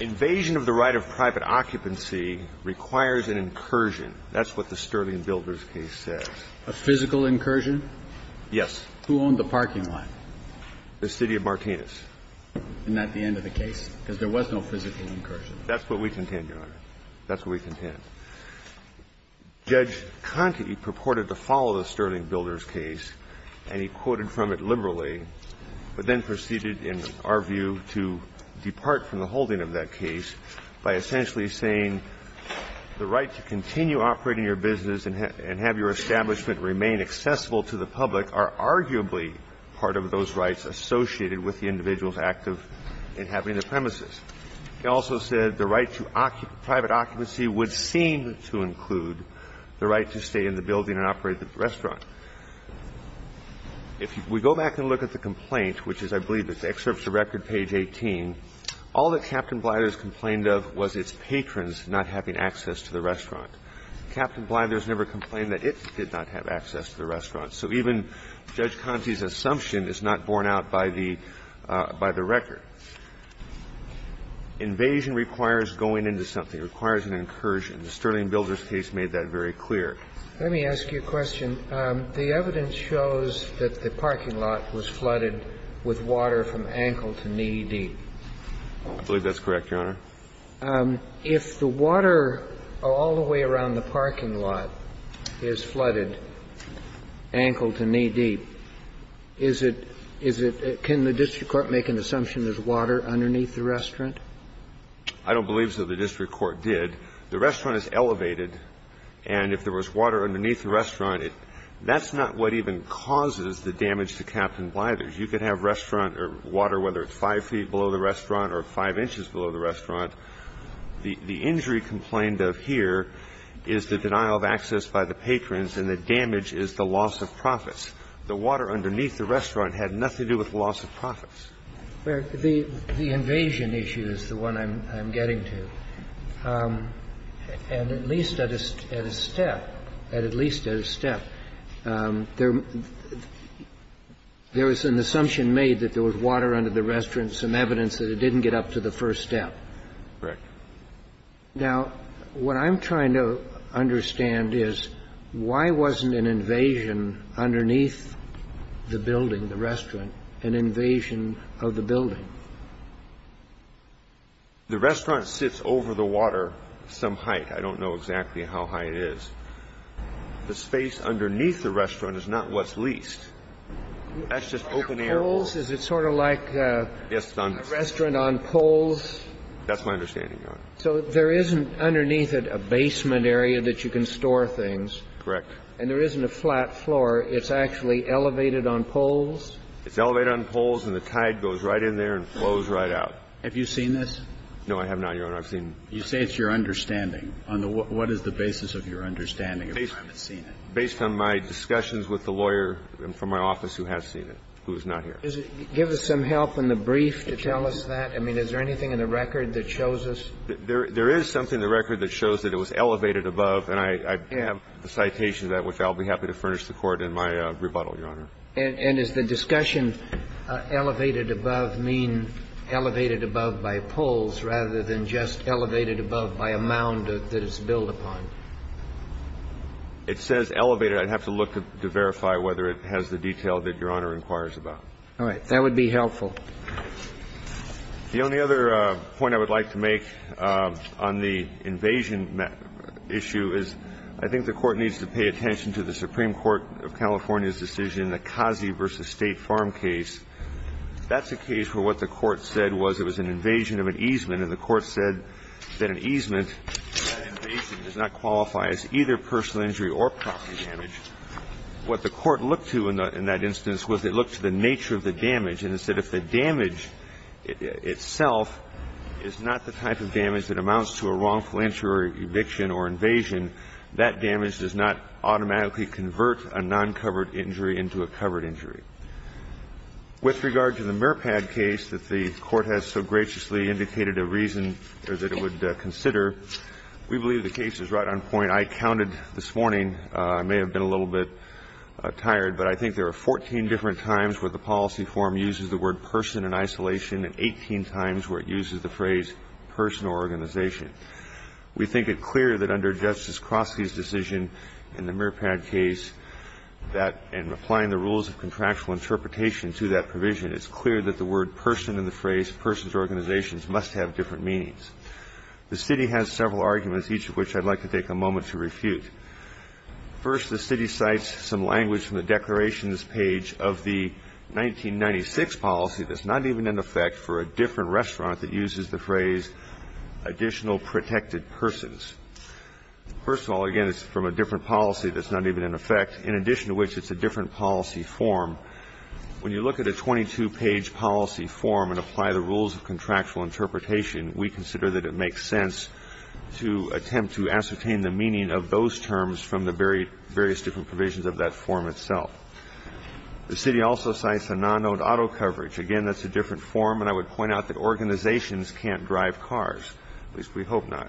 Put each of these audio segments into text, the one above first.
Invasion of the right of private occupancy requires an incursion. That's what the Sterling Builders case says. A physical incursion? Yes. Who owned the parking lot? The city of Martinez. And at the end of the case? Because there was no physical incursion. That's what we contend, Your Honor. That's what we contend. Judge Conte purported to follow the story of the Sterling Builders case, and he quoted from it liberally, but then proceeded, in our view, to depart from the holding of that case by essentially saying the right to continue operating your business and have your establishment remain accessible to the public are arguably part of those rights associated with the individual's active inhabiting the premises. He also said the right to private occupancy would seem to include the right to stay in the building and operate the restaurant. If we go back and look at the complaint, which is, I believe, the excerpt of the record, page 18, all that Captain Blithers complained of was its patrons not having access to the restaurant. Captain Blithers never complained that it did not have access to the restaurant. So even Judge Conte's Invasion requires going into something. It requires an incursion. The Sterling Builders case made that very clear. Let me ask you a question. The evidence shows that the parking lot was flooded with water from ankle to knee deep. I believe that's correct, Your Honor. If the water all the way around the parking lot is flooded ankle to knee deep, is it Can the district court make an assumption there's water underneath the restaurant? I don't believe so. The district court did. The restaurant is elevated. And if there was water underneath the restaurant, that's not what even causes the damage to Captain Blithers. You could have restaurant or water, whether it's five feet below the restaurant or five inches below the restaurant. The injury complained of here is the denial of access by the patrons and the damage is the loss of profits. The water underneath the restaurant had nothing to do with loss of profits. Well, the invasion issue is the one I'm getting to. And at least at a step, at least at a step, there was an assumption made that there was water under the restaurant, some evidence that it didn't get up to the first step. Correct. Now, what I'm trying to understand is why wasn't an invasion underneath the building, the restaurant, an invasion of the building? The restaurant sits over the water some height. I don't know exactly how high it is. The space underneath the restaurant is not what's leased. That's just open air. Is it sort of like a restaurant on poles? That's my understanding, Your Honor. So there isn't underneath it a basement area that you can store things? Correct. And there isn't a flat floor. It's actually elevated on poles? It's elevated on poles, and the tide goes right in there and flows right out. Have you seen this? No, I have not, Your Honor. I've seen it. You say it's your understanding. On what is the basis of your understanding of the time it's seen it? Based on my discussions with the lawyer from my office who has seen it, who is not Give us some help in the brief to tell us that. I mean, is there anything in the record that shows us? There is something in the record that shows that it was elevated above, and I have a citation of that which I'll be happy to furnish the Court in my rebuttal, Your Honor. And is the discussion elevated above mean elevated above by poles rather than just elevated above by a mound that it's built upon? It says elevated. I'd have to look to verify whether it has the detail that Your Honor inquires about. All right. That would be helpful. The only other point I would like to make on the invasion issue is I think the Court needs to pay attention to the Supreme Court of California's decision, the Kazi v. State Farm case. That's a case where what the Court said was it was an invasion of an easement, and the Court said that an easement, that invasion does not qualify as either personal injury or property damage. What the Court looked to in that instance was it looked to the nature of the damage itself is not the type of damage that amounts to a wrongful injury or eviction or invasion. That damage does not automatically convert a non-covered injury into a covered injury. With regard to the Merpad case that the Court has so graciously indicated a reason that it would consider, we believe the case is right on point. I counted this morning. I may have been a little bit tired, but I think there are 14 different times where the policy form uses the word person in isolation and 18 times where it uses the phrase personal organization. We think it clear that under Justice Crosky's decision in the Merpad case that in applying the rules of contractual interpretation to that provision, it's clear that the word person in the phrase persons organizations must have different meanings. The city has several arguments, each of which I'd like to take a moment to refute. First, the city cites some language from the declarations page of the 1996 policy that's not even in effect for a different restaurant that uses the phrase additional protected persons. First of all, again, it's from a different policy that's not even in effect, in addition to which it's a different policy form. When you look at a 22-page policy form and apply the rules of contractual interpretation, we consider that it makes sense to attempt to ascertain the meaning of those terms from the various different provisions of that form itself. The city also cites a non-owned auto coverage. Again, that's a different form, and I would point out that organizations can't drive cars, at least we hope not.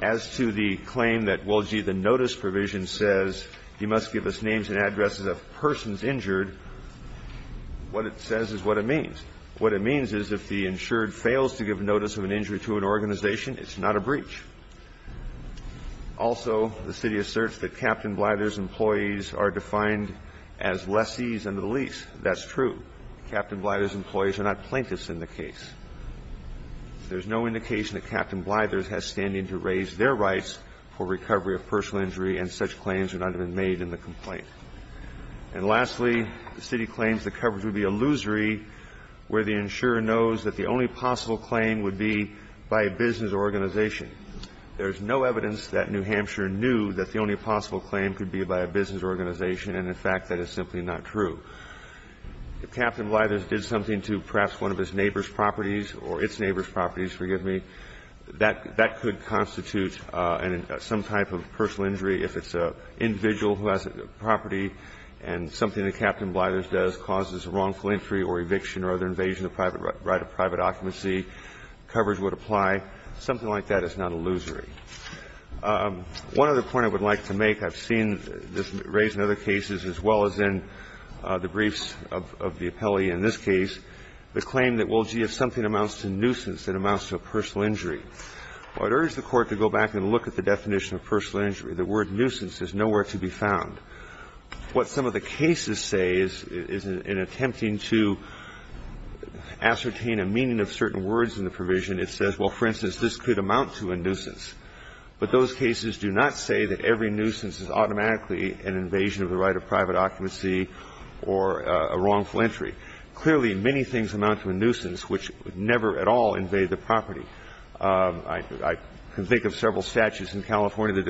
As to the claim that, well, gee, the notice provision says you must give us names and addresses of persons injured, what it says is what it means. What it means is if the insured fails to give notice of an injury to an organization, it's not a breach. Also, the city asserts that Captain Blyther's employees are defined as lessees under the lease. That's true. Captain Blyther's employees are not plaintiffs in the case. There's no indication that Captain Blyther's has standing to raise their rights for recovery of personal injury, and such claims would not have been made in the complaint. And lastly, the city claims the coverage would be illusory where the insurer knows that the only possible claim would be by a business organization. There's no evidence that New Hampshire knew that the only possible claim could be by a business organization, and, in fact, that is simply not true. If Captain Blyther's did something to perhaps one of his neighbor's properties or its neighbor's properties, forgive me, that could constitute some type of personal injury if it's an individual who has a property and something that Captain Blyther's does causes a wrongful entry or eviction or other invasion of private right of private occupancy, coverage would apply. Something like that is not illusory. One other point I would like to make, I've seen this raised in other cases as well as in the briefs of the appellee in this case, the claim that, well, gee, if something amounts to nuisance, it amounts to a personal injury. I would urge the Court to go back and look at the definition of personal injury. The word nuisance is nowhere to be found. What some of the cases say is, in attempting to ascertain a meaning of certain words in the provision, it says, well, for instance, this could amount to a nuisance. But those cases do not say that every nuisance is automatically an invasion of the right of private occupancy or a wrongful entry. Clearly, many things amount to a nuisance which never at all invade the property. I can think of several statutes in California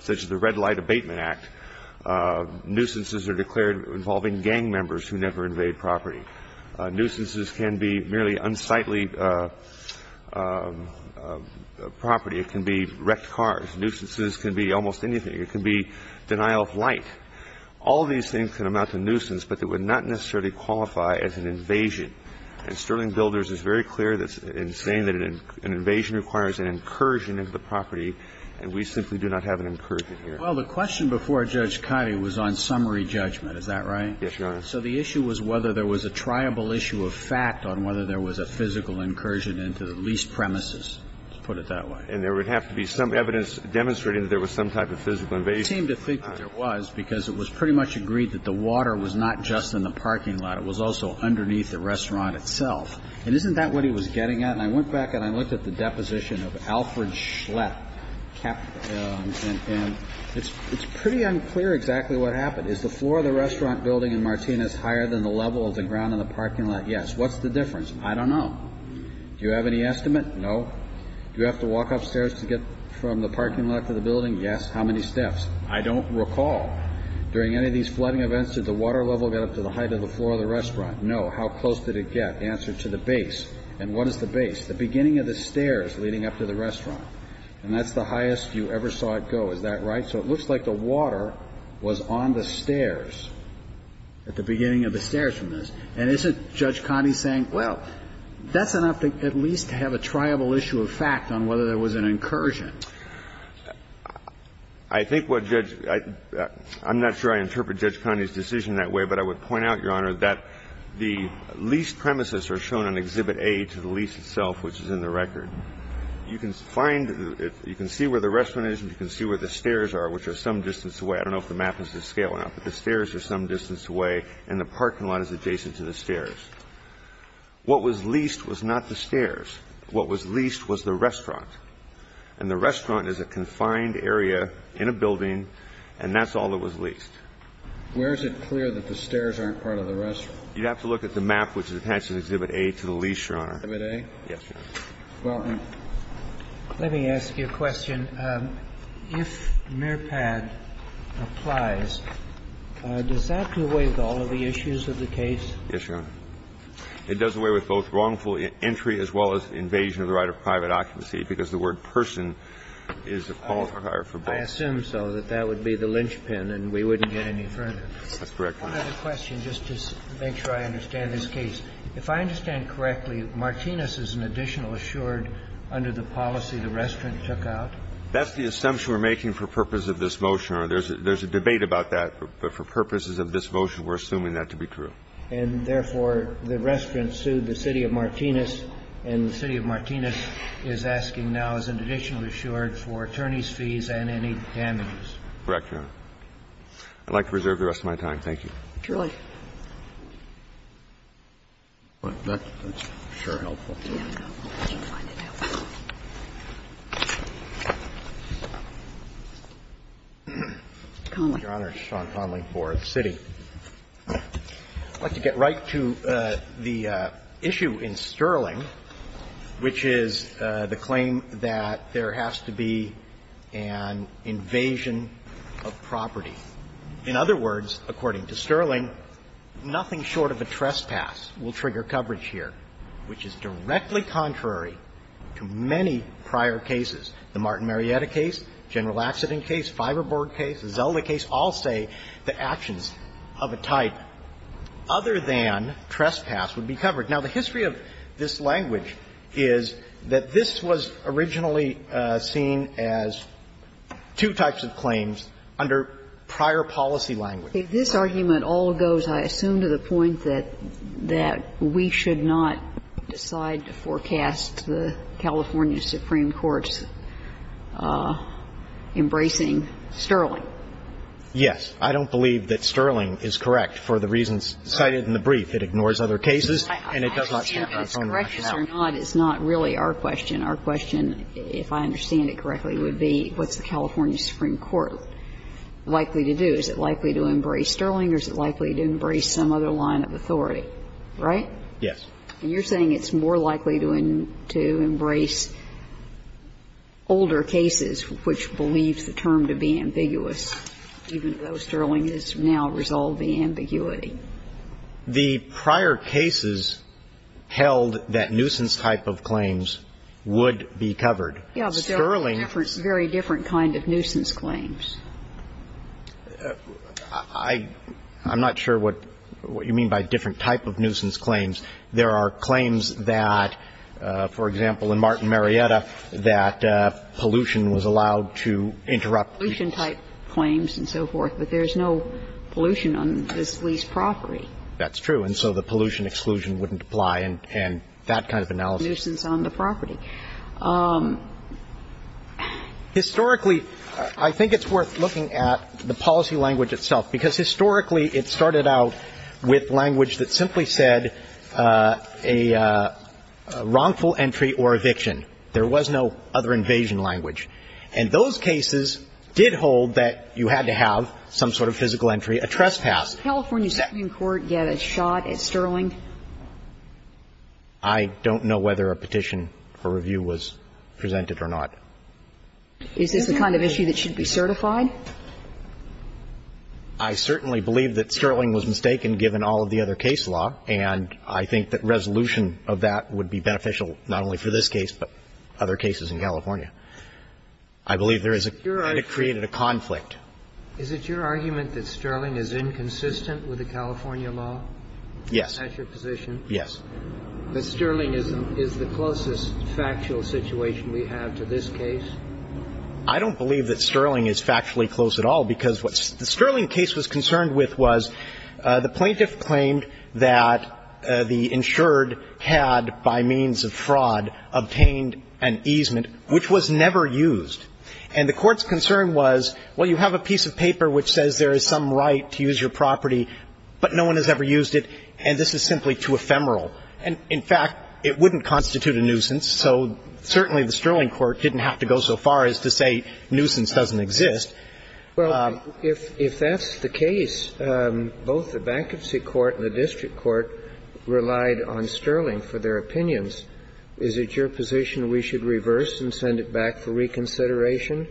such as the Red Light Abatement Act. Nuisances are declared involving gang members who never invade property. Nuisances can be merely unsightly property. It can be wrecked cars. Nuisances can be almost anything. It can be denial of light. All these things can amount to nuisance, but they would not necessarily qualify as an invasion. And Sterling Builders is very clear in saying that an invasion requires an incursion into the property, and we simply do not have an incursion here. Well, the question before Judge Cote was on summary judgment. Is that right? Yes, Your Honor. So the issue was whether there was a triable issue of fact on whether there was a physical incursion into the lease premises, to put it that way. And there would have to be some evidence demonstrating that there was some type of physical invasion. It seemed to think that there was, because it was pretty much agreed that the water was not just in the parking lot. It was also underneath the restaurant itself. And isn't that what he was getting at? And I went back and I looked at the deposition of Alfred Schlett. And it's pretty unclear exactly what happened. Is the floor of the restaurant building in Martinez higher than the level of the ground in the parking lot? Yes. What's the difference? I don't know. Do you have any estimate? No. Do you have to walk upstairs to get from the parking lot to the building? Yes. How many steps? I don't recall. During any of these flooding events, did the water level get up to the height of the floor of the restaurant? No. How close did it get? Answer to the base. And what is the base? The beginning of the stairs leading up to the restaurant. And that's the highest you ever saw it go. Is that right? So it looks like the water was on the stairs at the beginning of the stairs from this. And isn't Judge Coney saying, well, that's enough to at least have a triable issue of fact on whether there was an incursion? I think what Judge – I'm not sure I interpret Judge Coney's decision that way, but I would on exhibit A to the lease itself, which is in the record. You can find – you can see where the restaurant is and you can see where the stairs are, which are some distance away. I don't know if the map is scaling up, but the stairs are some distance away and the parking lot is adjacent to the stairs. What was leased was not the stairs. What was leased was the restaurant. And the restaurant is a confined area in a building, and that's all that was leased. Where is it clear that the stairs aren't part of the restaurant? You'd have to look at the map, which attaches exhibit A to the lease, Your Honor. Exhibit A? Yes, Your Honor. Well, let me ask you a question. If MIRPAD applies, does that do away with all of the issues of the case? Yes, Your Honor. It does away with both wrongful entry as well as invasion of the right of private occupancy, because the word person is a qualifier for both. I assume so, that that would be the linchpin and we wouldn't get any further. That's correct, Your Honor. I have another question just to make sure I understand this case. If I understand correctly, Martinez is an additional assured under the policy the restaurant took out? That's the assumption we're making for purpose of this motion, Your Honor. There's a debate about that, but for purposes of this motion, we're assuming that to be true. And therefore, the restaurant sued the City of Martinez, and the City of Martinez is asking now as an additional assured for attorneys' fees and any damages. Correct, Your Honor. I'd like to reserve the rest of my time. Thank you. Julie. Your Honor, it's Sean Connelly for the City. I'd like to get right to the issue in Sterling, which is the claim that there has to be an invasion of property. In other words, according to Sterling, nothing short of a trespass will trigger coverage here, which is directly contrary to many prior cases. The Martin Marietta case, General Accident case, Fiberboard case, the Zelda case all say that actions of a type other than trespass would be covered. Now, the history of this language is that this was originally seen as two types of claims under prior policy language. If this argument all goes, I assume, to the point that we should not decide to forecast the California Supreme Court's embracing Sterling? Yes. I don't believe that Sterling is correct for the reasons cited in the brief. It ignores other cases, and it does not count by its own rationale. I understand if it's correct or not is not really our question. Our question, if I understand it correctly, would be what's the California Supreme Court likely to do? Is it likely to embrace Sterling, or is it likely to embrace some other line of authority? Right? Yes. And you're saying it's more likely to embrace older cases, which believes the term The prior cases held that nuisance type of claims would be covered. Yeah, but there are very different kind of nuisance claims. I'm not sure what you mean by different type of nuisance claims. There are claims that, for example, in Martin Marietta, that pollution was allowed to interrupt. There are pollution type claims and so forth, but there's no pollution on this lease property. That's true. And so the pollution exclusion wouldn't apply, and that kind of analysis. Nuisance on the property. Historically, I think it's worth looking at the policy language itself, because historically it started out with language that simply said a wrongful entry or eviction. There was no other invasion language. And those cases did hold that you had to have some sort of physical entry, a trespass. Did California Supreme Court get a shot at Sterling? I don't know whether a petition for review was presented or not. Is this the kind of issue that should be certified? I certainly believe that Sterling was mistaken, given all of the other case law, and I think that resolution of that would be beneficial not only for this case, but other cases in California. I believe there is a – and it created a conflict. Is it your argument that Sterling is inconsistent with the California law? Yes. Is that your position? Yes. That Sterling is the closest factual situation we have to this case? I don't believe that Sterling is factually close at all, because what the Sterling case was concerned with was the plaintiff claimed that the insured had, by means of fraud, obtained an easement which was never used. And the Court's concern was, well, you have a piece of paper which says there is some right to use your property, but no one has ever used it, and this is simply too ephemeral. And, in fact, it wouldn't constitute a nuisance, so certainly the Sterling Court didn't have to go so far as to say nuisance doesn't exist. Well, if that's the case, both the bankruptcy court and the district court relied on Sterling for their opinions. Is it your position we should reverse and send it back for reconsideration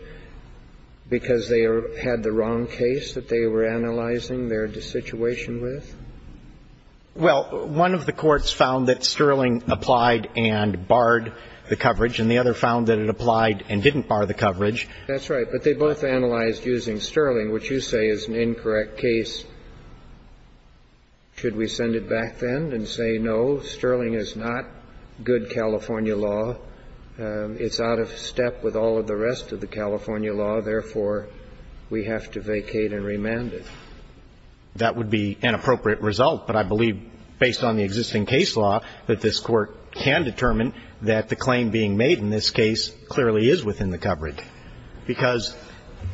because they had the wrong case that they were analyzing their situation with? Well, one of the courts found that Sterling applied and barred the coverage, and the other found that it applied and didn't bar the coverage. That's right. But they both analyzed using Sterling, which you say is an incorrect case. Should we send it back then and say, no, Sterling is not good California law, it's out of step with all of the rest of the California law, therefore, we have to vacate and remand it? That would be an appropriate result, but I believe, based on the existing case law, that this Court can determine that the claim being made in this case clearly is within the coverage because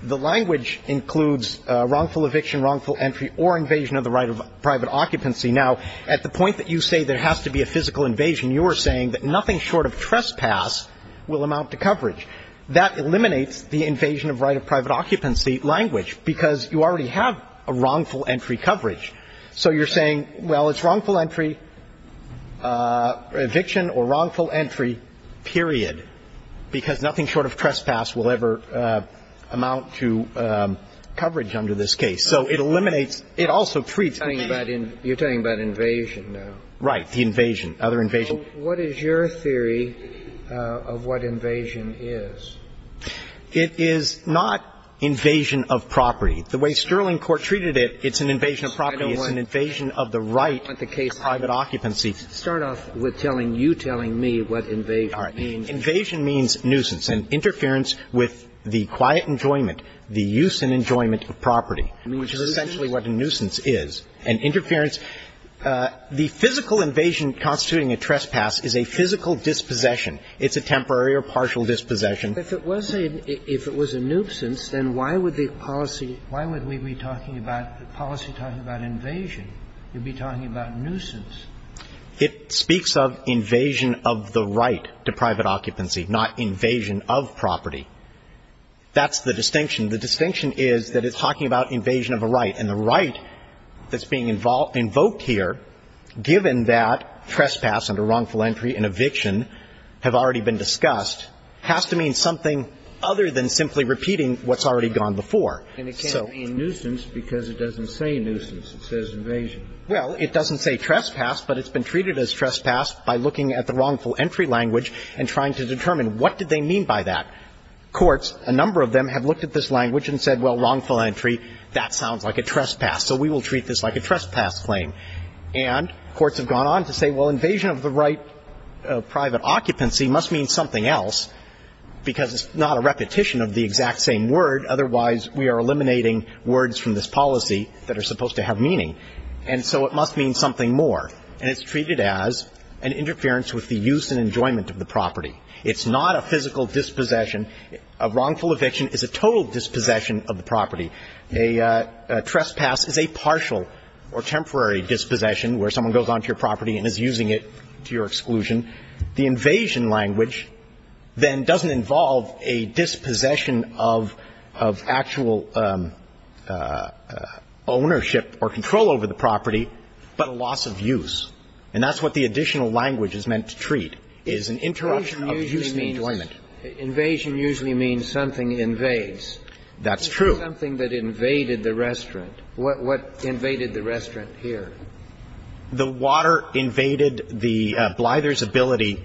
the language includes wrongful eviction, wrongful entry or invasion of the right of private occupancy. Now, at the point that you say there has to be a physical invasion, you are saying that nothing short of trespass will amount to coverage. That eliminates the invasion of right of private occupancy language because you already have a wrongful entry coverage. So you're saying, well, it's wrongful entry, eviction or wrongful entry, period, because nothing short of trespass will ever amount to coverage under this case. So it eliminates. It also treats. You're talking about invasion now. Right. The invasion, other invasion. What is your theory of what invasion is? It is not invasion of property. The way Sterling Court treated it, it's an invasion of property. It's an invasion of the right of private occupancy. Let's start off with telling you, telling me what invasion means. All right. Invasion means nuisance, an interference with the quiet enjoyment, the use and enjoyment of property, which is essentially what a nuisance is. An interference, the physical invasion constituting a trespass is a physical dispossession. It's a temporary or partial dispossession. If it was a nuisance, then why would the policy be talking about invasion? You'd be talking about nuisance. It speaks of invasion of the right to private occupancy, not invasion of property. That's the distinction. The distinction is that it's talking about invasion of a right, and the right that's being invoked here, given that trespass under wrongful entry and eviction have already been discussed, has to mean something other than simply repeating what's already gone before. And it can't be a nuisance because it doesn't say nuisance. It says invasion. Well, it doesn't say trespass, but it's been treated as trespass by looking at the wrongful entry language and trying to determine what did they mean by that. Courts, a number of them, have looked at this language and said, well, wrongful entry, that sounds like a trespass, so we will treat this like a trespass claim. And courts have gone on to say, well, invasion of the right of private occupancy must mean something else because it's not a repetition of the exact same word. Otherwise, we are eliminating words from this policy that are supposed to have meaning. And so it must mean something more. And it's treated as an interference with the use and enjoyment of the property. It's not a physical dispossession. A wrongful eviction is a total dispossession of the property. A trespass is a partial or temporary dispossession where someone goes onto your property and is using it to your exclusion. The invasion language then doesn't involve a dispossession of actual ownership or control over the property, but a loss of use. And that's what the additional language is meant to treat, is an interruption of the use and enjoyment. Invasion usually means something invades. That's true. Something that invaded the restaurant. What invaded the restaurant here? The water invaded the blither's ability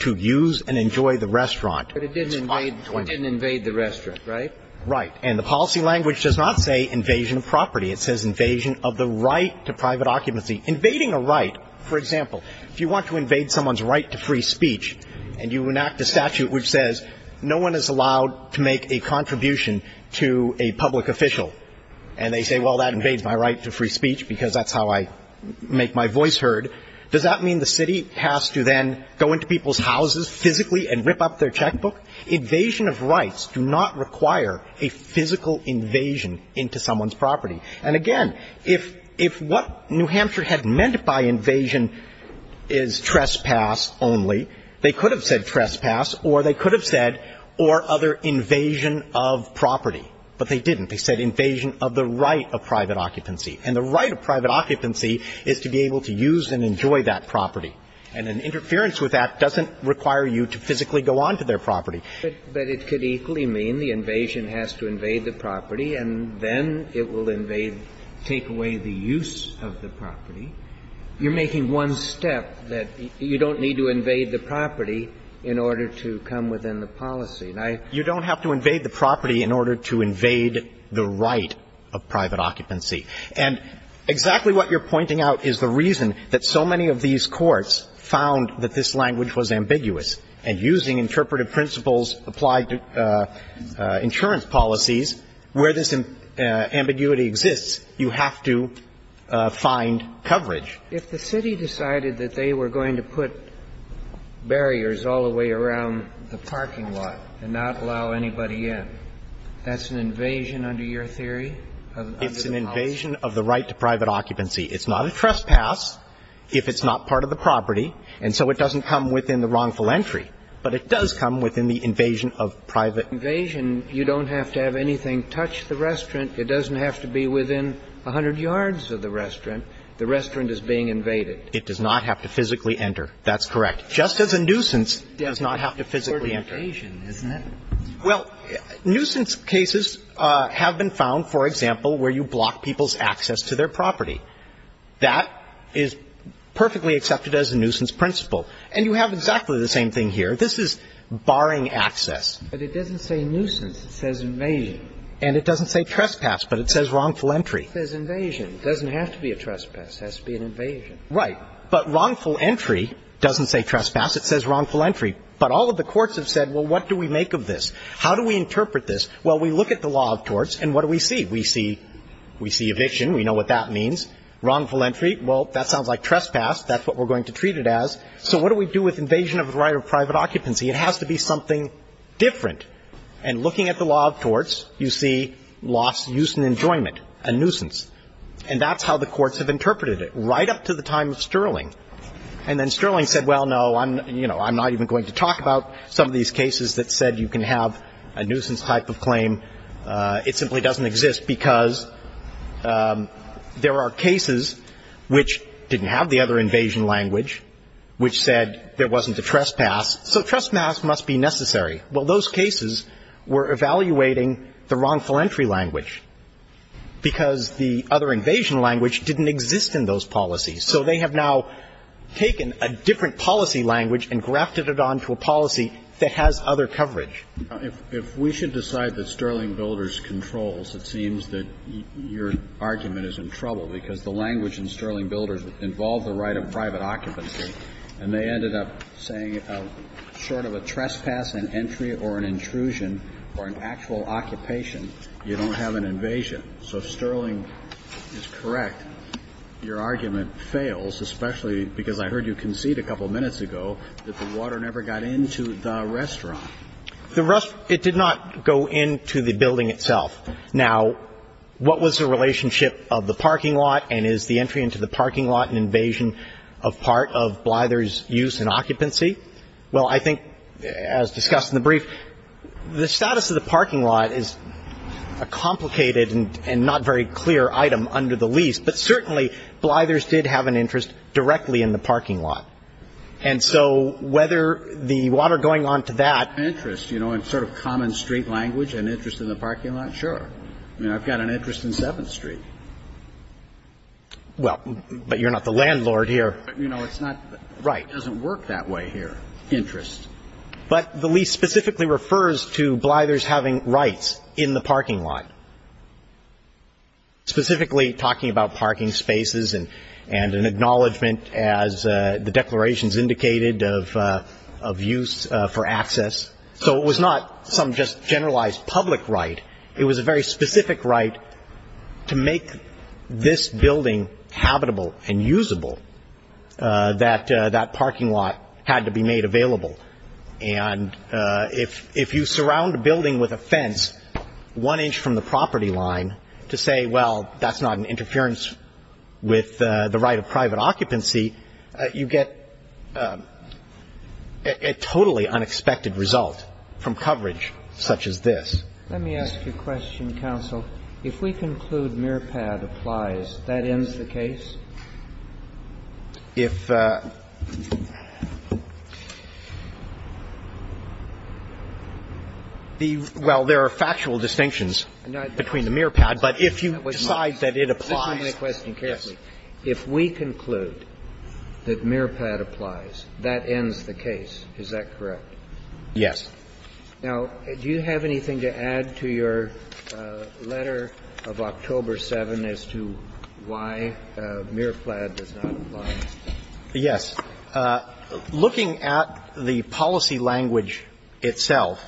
to use and enjoy the restaurant. But it didn't invade the restaurant, right? Right. And the policy language does not say invasion of property. It says invasion of the right to private occupancy. Invading a right, for example, if you want to invade someone's right to free speech and you enact a statute which says no one is allowed to make a contribution to a public official, and they say, well, that invades my right to free speech because that's how I make my voice heard, does that mean the city has to then go into people's houses physically and rip up their checkbook? Invasion of rights do not require a physical invasion into someone's property. And again, if what New Hampshire had meant by invasion is trespass only, they could have said trespass or they could have said or other invasion of property. But they didn't. They said invasion of the right of private occupancy. And the right of private occupancy is to be able to use and enjoy that property. And an interference with that doesn't require you to physically go onto their property. But it could equally mean the invasion has to invade the property and then it will invade, take away the use of the property. You're making one step that you don't need to invade the property in order to come within the policy. You don't have to invade the property in order to invade the right of private occupancy. And exactly what you're pointing out is the reason that so many of these courts found that this language was ambiguous. And using interpretive principles applied to insurance policies, where this ambiguity exists, you have to find coverage. If the city decided that they were going to put barriers all the way around the parking lot and not allow anybody in, that's an invasion under your theory? It's an invasion of the right to private occupancy. It's not a trespass if it's not part of the property. And so it doesn't come within the wrongful entry. But it does come within the invasion of private. Invasion, you don't have to have anything touch the restaurant. It doesn't have to be within 100 yards of the restaurant. The restaurant is being invaded. It does not have to physically enter. That's correct. Just as a nuisance does not have to physically enter. It's sort of invasion, isn't it? Well, nuisance cases have been found, for example, where you block people's access to their property. That is perfectly accepted as a nuisance principle. And you have exactly the same thing here. This is barring access. But it doesn't say nuisance. It says invasion. And it doesn't say trespass, but it says wrongful entry. It says invasion. It doesn't have to be a trespass. It has to be an invasion. Right. But wrongful entry doesn't say trespass. It says wrongful entry. But all of the courts have said, well, what do we make of this? How do we interpret this? Well, we look at the law of torts, and what do we see? We see eviction. We know what that means. Wrongful entry, well, that sounds like trespass. That's what we're going to treat it as. So what do we do with invasion of the right of private occupancy? It has to be something different. And looking at the law of torts, you see loss, use, and enjoyment, a nuisance. And that's how the courts have interpreted it, right up to the time of Sterling. And then Sterling said, well, no, I'm, you know, I'm not even going to talk about some of these cases that said you can have a nuisance type of claim. It simply doesn't exist because there are cases which didn't have the other invasion language, which said there wasn't a trespass. So trespass must be necessary. Well, those cases were evaluating the wrongful entry language because the other invasion language didn't exist in those policies. So they have now taken a different policy language and grafted it onto a policy that has other coverage. If we should decide that Sterling Builders controls, it seems that your argument is in trouble because the language in Sterling Builders involved the right of private occupancy, and they ended up saying short of a trespass, an entry, or an intrusion, or an actual occupation, you don't have an invasion. So if Sterling is correct, your argument fails, especially because I heard you concede a couple of minutes ago that the water never got into the restaurant. The restaurant, it did not go into the building itself. Now, what was the relationship of the parking lot and is the entry into the parking lot an invasion of part of Blyther's use and occupancy? Well, I think, as discussed in the brief, the status of the parking lot is a complicated and not very clear item under the lease, but certainly Blyther's did have an interest directly in the parking lot. And so whether the water going on to that ---- Interest, you know, in sort of common street language, an interest in the parking lot, sure. I mean, I've got an interest in 7th Street. Well, but you're not the landlord here. But, you know, it's not ---- Right. It doesn't work that way here, interest. But the lease specifically refers to Blyther's having rights in the parking lot, specifically talking about parking spaces and an acknowledgment, as the declarations indicated, of use for access. So it was not some just generalized public right. It was a very specific right to make this building habitable and usable that that parking lot had to be made available. And if you surround a building with a fence one inch from the property line to say, well, that's not an interference with the right of private occupancy, you get a totally unexpected result from coverage such as this. Let me ask you a question, counsel. If we conclude MIRPAD applies, that ends the case? If the ---- well, there are factual distinctions between the MIRPAD, but if you decide that it applies, yes. Let me ask you a question carefully. If we conclude that MIRPAD applies, that ends the case. Is that correct? Yes. Now, do you have anything to add to your letter of October 7 as to why Blyther says that MIRPAD does not apply? Yes. Looking at the policy language itself,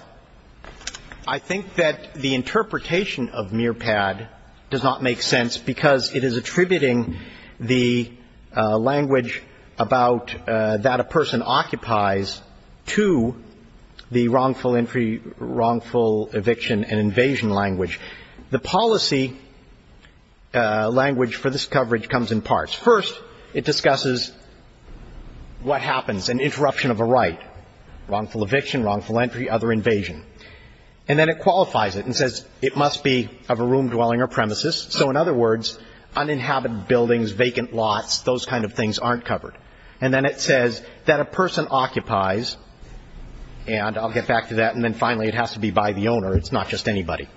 I think that the interpretation of MIRPAD does not make sense because it is attributing the language about that a person occupies to the wrongful entry, wrongful eviction and invasion language. The policy language for this coverage comes in parts. First, it discusses what happens, an interruption of a right, wrongful eviction, wrongful entry, other invasion. And then it qualifies it and says it must be of a room dwelling or premises. So in other words, uninhabited buildings, vacant lots, those kind of things aren't covered. And then it says that a person occupies, and I'll get back to that, and then finally it has to be by the owner. It's not just anybody.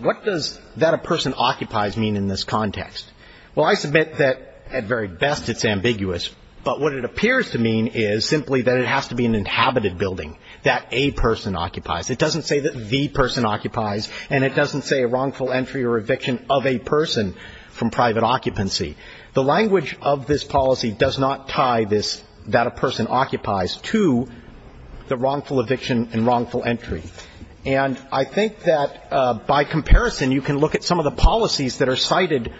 What does that a person occupies mean in this context? Well, I submit that at very best it's ambiguous, but what it appears to mean is simply that it has to be an inhabited building that a person occupies. It doesn't say that the person occupies, and it doesn't say a wrongful entry or eviction of a person from private occupancy. The language of this policy does not tie this that a person occupies to the wrongful eviction and wrongful entry. And I think that by comparison, you can look at some of the policies that are cited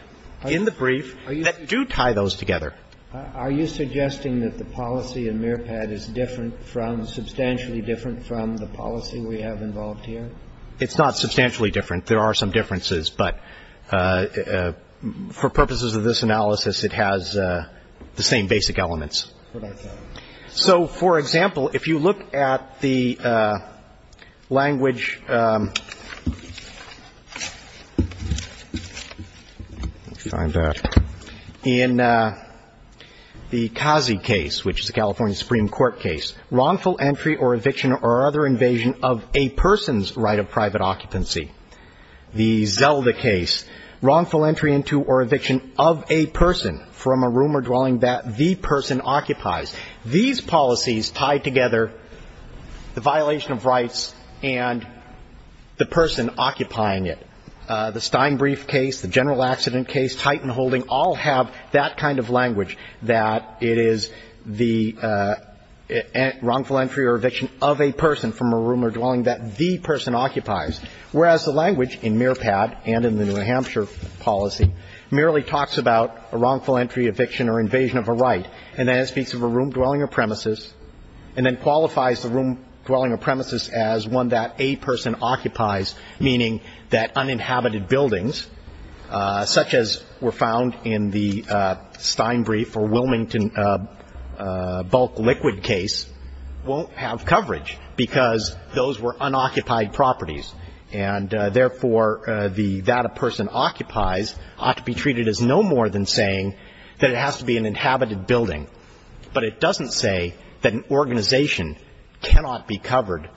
in the brief that do tie those together. Are you suggesting that the policy in MIRPAD is different from, substantially different from the policy we have involved here? It's not substantially different. There are some differences, but for purposes of this analysis, it has the same basic elements. So, for example, if you look at the language in the Kazi case, which is the California Supreme Court case, wrongful entry or eviction or other invasion of a person's right of private occupancy, the Zelda case, wrongful entry into or eviction of a person from a room or dwelling that the person occupies. These policies tie together the violation of rights and the person occupying it. The Steinbrief case, the general accident case, Titan-Holding, all have that kind of language, that it is the wrongful entry or eviction of a person from a room or dwelling that the person occupies, whereas the language in MIRPAD and in the New Hampshire policy merely talks about a wrongful entry, eviction or invasion of a right and then it speaks of a room, dwelling, or premises, and then qualifies the room, dwelling, or premises as one that a person occupies, meaning that uninhabited buildings, such as were found in the Steinbrief or Wilmington bulk liquid case, won't have coverage because those were unoccupied properties. And, therefore, the that a person occupies ought to be treated as no more than saying that it has to be an inhabited building, but it doesn't say that an organization cannot be covered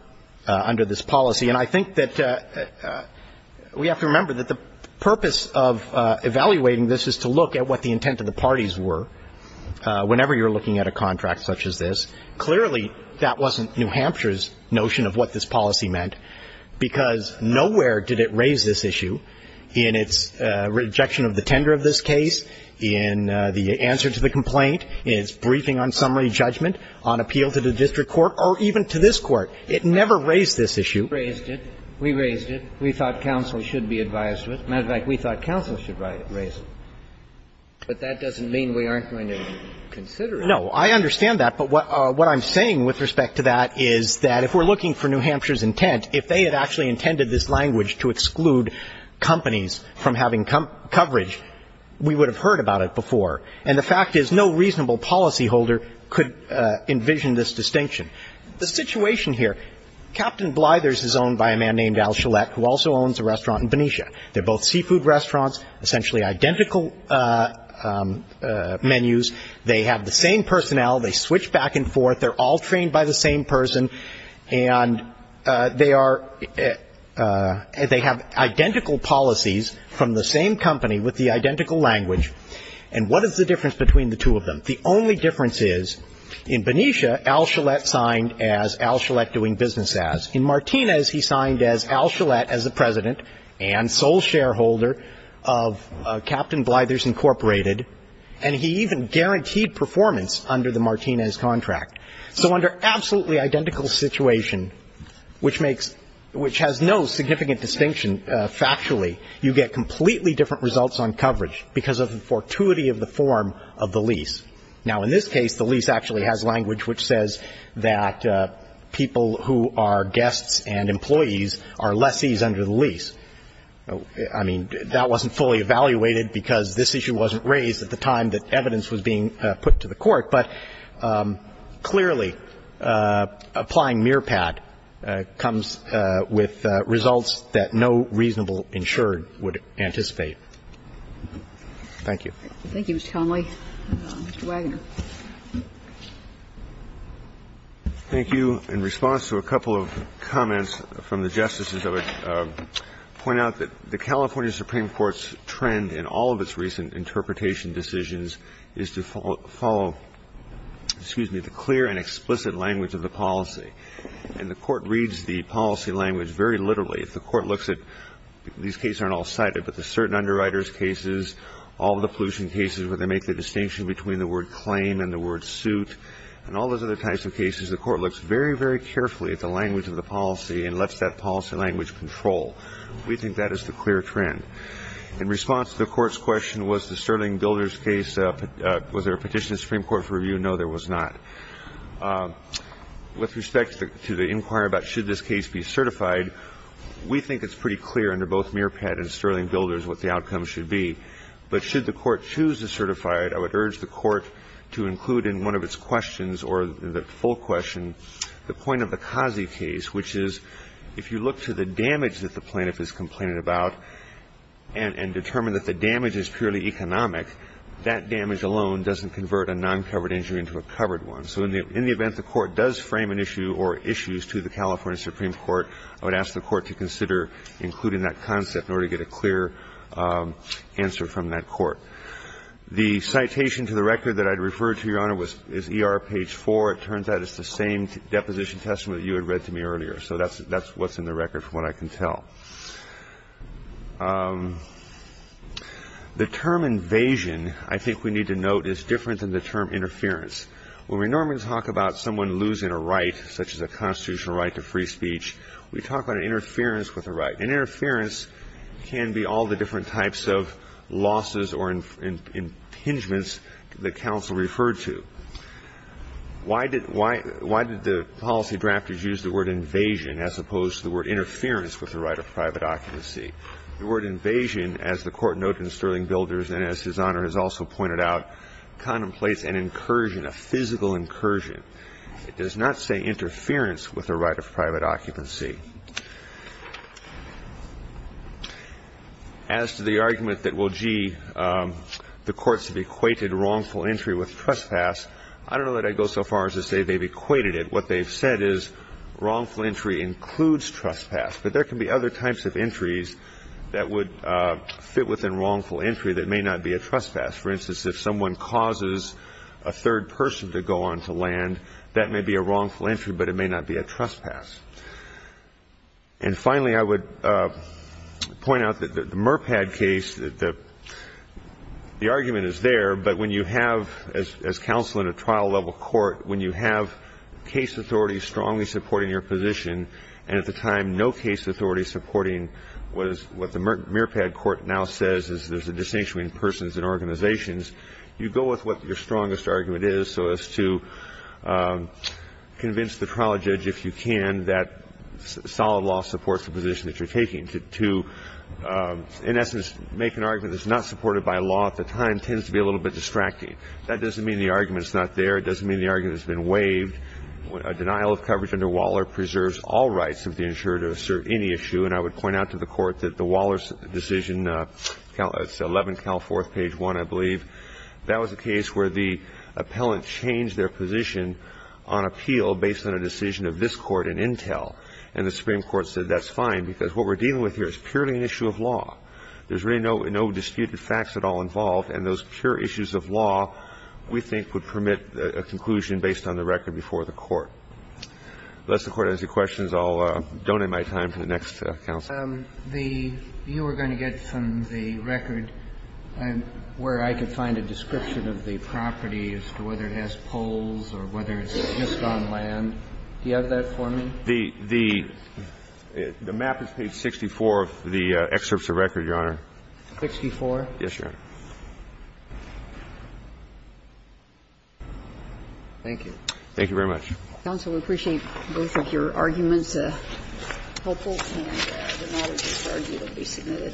under this policy. And I think that we have to remember that the purpose of evaluating this is to look at what the intent of the parties were whenever you're looking at a contract such as this. Clearly, that wasn't New Hampshire's notion of what this policy meant, because nowhere did it raise this issue in its rejection of the tender of this case, in the answer to the complaint, in its briefing on summary judgment, on appeal to the district court, or even to this Court. It never raised this issue. We raised it. We thought counsel should be advised of it. As a matter of fact, we thought counsel should raise it. But that doesn't mean we aren't going to consider it. No. I understand that. But what I'm saying with respect to that is that if we're looking for New Hampshire's intent, if they had actually intended this language to exclude companies from having coverage, we would have heard about it before. And the fact is no reasonable policyholder could envision this distinction. The situation here, Captain Blyther's is owned by a man named Al Shalett, who also owns a restaurant in Benicia. They're both seafood restaurants, essentially identical menus. They have the same personnel. They switch back and forth. They're all trained by the same person. And they are they have identical policies from the same company with the identical language. And what is the difference between the two of them? The only difference is in Benicia, Al Shalett signed as Al Shalett doing business as. In Martinez, he signed as Al Shalett as the president and sole shareholder of Captain Blyther's, Incorporated. And he even guaranteed performance under the Martinez contract. So under absolutely identical situation, which makes, which has no significant distinction factually, you get completely different results on coverage because of the fortuity of the form of the lease. Now, in this case, the lease actually has language which says that people who are guests and employees are lessees under the lease. I mean, that wasn't fully evaluated because this issue wasn't raised at the time that evidence was being put to the court. But clearly, applying mearpad comes with results that no reasonable insured would anticipate. Thank you. Thank you, Mr. Connolly. Mr. Wagoner. Thank you. In response to a couple of comments from the Justices, I would point out that the California Supreme Court's trend in all of its recent interpretation decisions is to follow, excuse me, the clear and explicit language of the policy. And the court reads the policy language very literally. If the court looks at, these cases aren't all cited, but the certain underwriters cases, all the pollution cases where they make the distinction between the word claim and the word suit, and all those other types of cases, the court looks very, very carefully at the language of the policy and lets that policy language control. We think that is the clear trend. In response to the court's question, was the Sterling Builders case, was there a petition of the Supreme Court for review? No, there was not. With respect to the inquiry about should this case be certified, we think it's pretty clear under both mearpad and Sterling Builders what the outcome should be. But should the court choose to certify it, I would urge the court to include in one of its questions or the full question the point of the Kazi case, which is, if you look to the damage that the plaintiff is complaining about and determine that the damage is purely economic, that damage alone doesn't convert a non-covered injury into a covered one. So in the event the court does frame an issue or issues to the California Supreme Court, I would ask the court to consider including that concept in order to get a clear answer from that court. The citation to the record that I had referred to, Your Honor, is ER page 4. It turns out it's the same deposition testament that you had read to me earlier. So that's what's in the record from what I can tell. The term invasion, I think we need to note, is different than the term interference. When we normally talk about someone losing a right, such as a constitutional right to free speech, we talk about interference with a right. And interference can be all the different types of losses or impingements that counsel referred to. Why did the policy drafters use the word invasion as opposed to the word interference with a right of private occupancy? The word invasion, as the Court noted in Sterling Builders and as His Honor has also pointed out, contemplates an incursion, a physical incursion. It does not say interference with a right of private occupancy. As to the argument that, well, gee, the courts have equated wrongful entry with trespass, I don't know that I'd go so far as to say they've equated it. What they've said is wrongful entry includes trespass. But there can be other types of entries that would fit within wrongful entry that may not be a trespass. For instance, if someone causes a third person to go onto land, that may be a wrongful entry, but it may not be a trespass. And finally, I would point out that the Merpad case, the argument is there, but when you have, as counsel in a trial-level court, when you have case authorities strongly supporting your position and at the time no case authority supporting what the Merpad court now says is there's a distinction between persons and organizations, you go with what your strongest argument is so as to convince the trial judge, if you can, that solid law supports the position that you're taking to, in essence, make an argument that's not supported by law at the time And that tends to be a little bit distracting. That doesn't mean the argument is not there. It doesn't mean the argument has been waived. A denial of coverage under Waller preserves all rights of the insurer to assert any issue. And I would point out to the Court that the Waller's decision, it's 11 Cal 4th, page 1, I believe, that was a case where the appellant changed their position on appeal based on a decision of this Court in Intel. And the Supreme Court said that's fine because what we're dealing with here is purely an issue of law. There's really no disputed facts at all involved. And those pure issues of law, we think, would permit a conclusion based on the record before the Court. Unless the Court has any questions, I'll donate my time to the next counsel. You were going to get from the record where I could find a description of the property as to whether it has poles or whether it's just on land. Do you have that for me? The map is page 64 of the excerpts of record, Your Honor. Sixty-four? Yes, Your Honor. Thank you. Thank you very much. Counsel, we appreciate both of your arguments. It's helpful. And it matters as far as it will be submitted.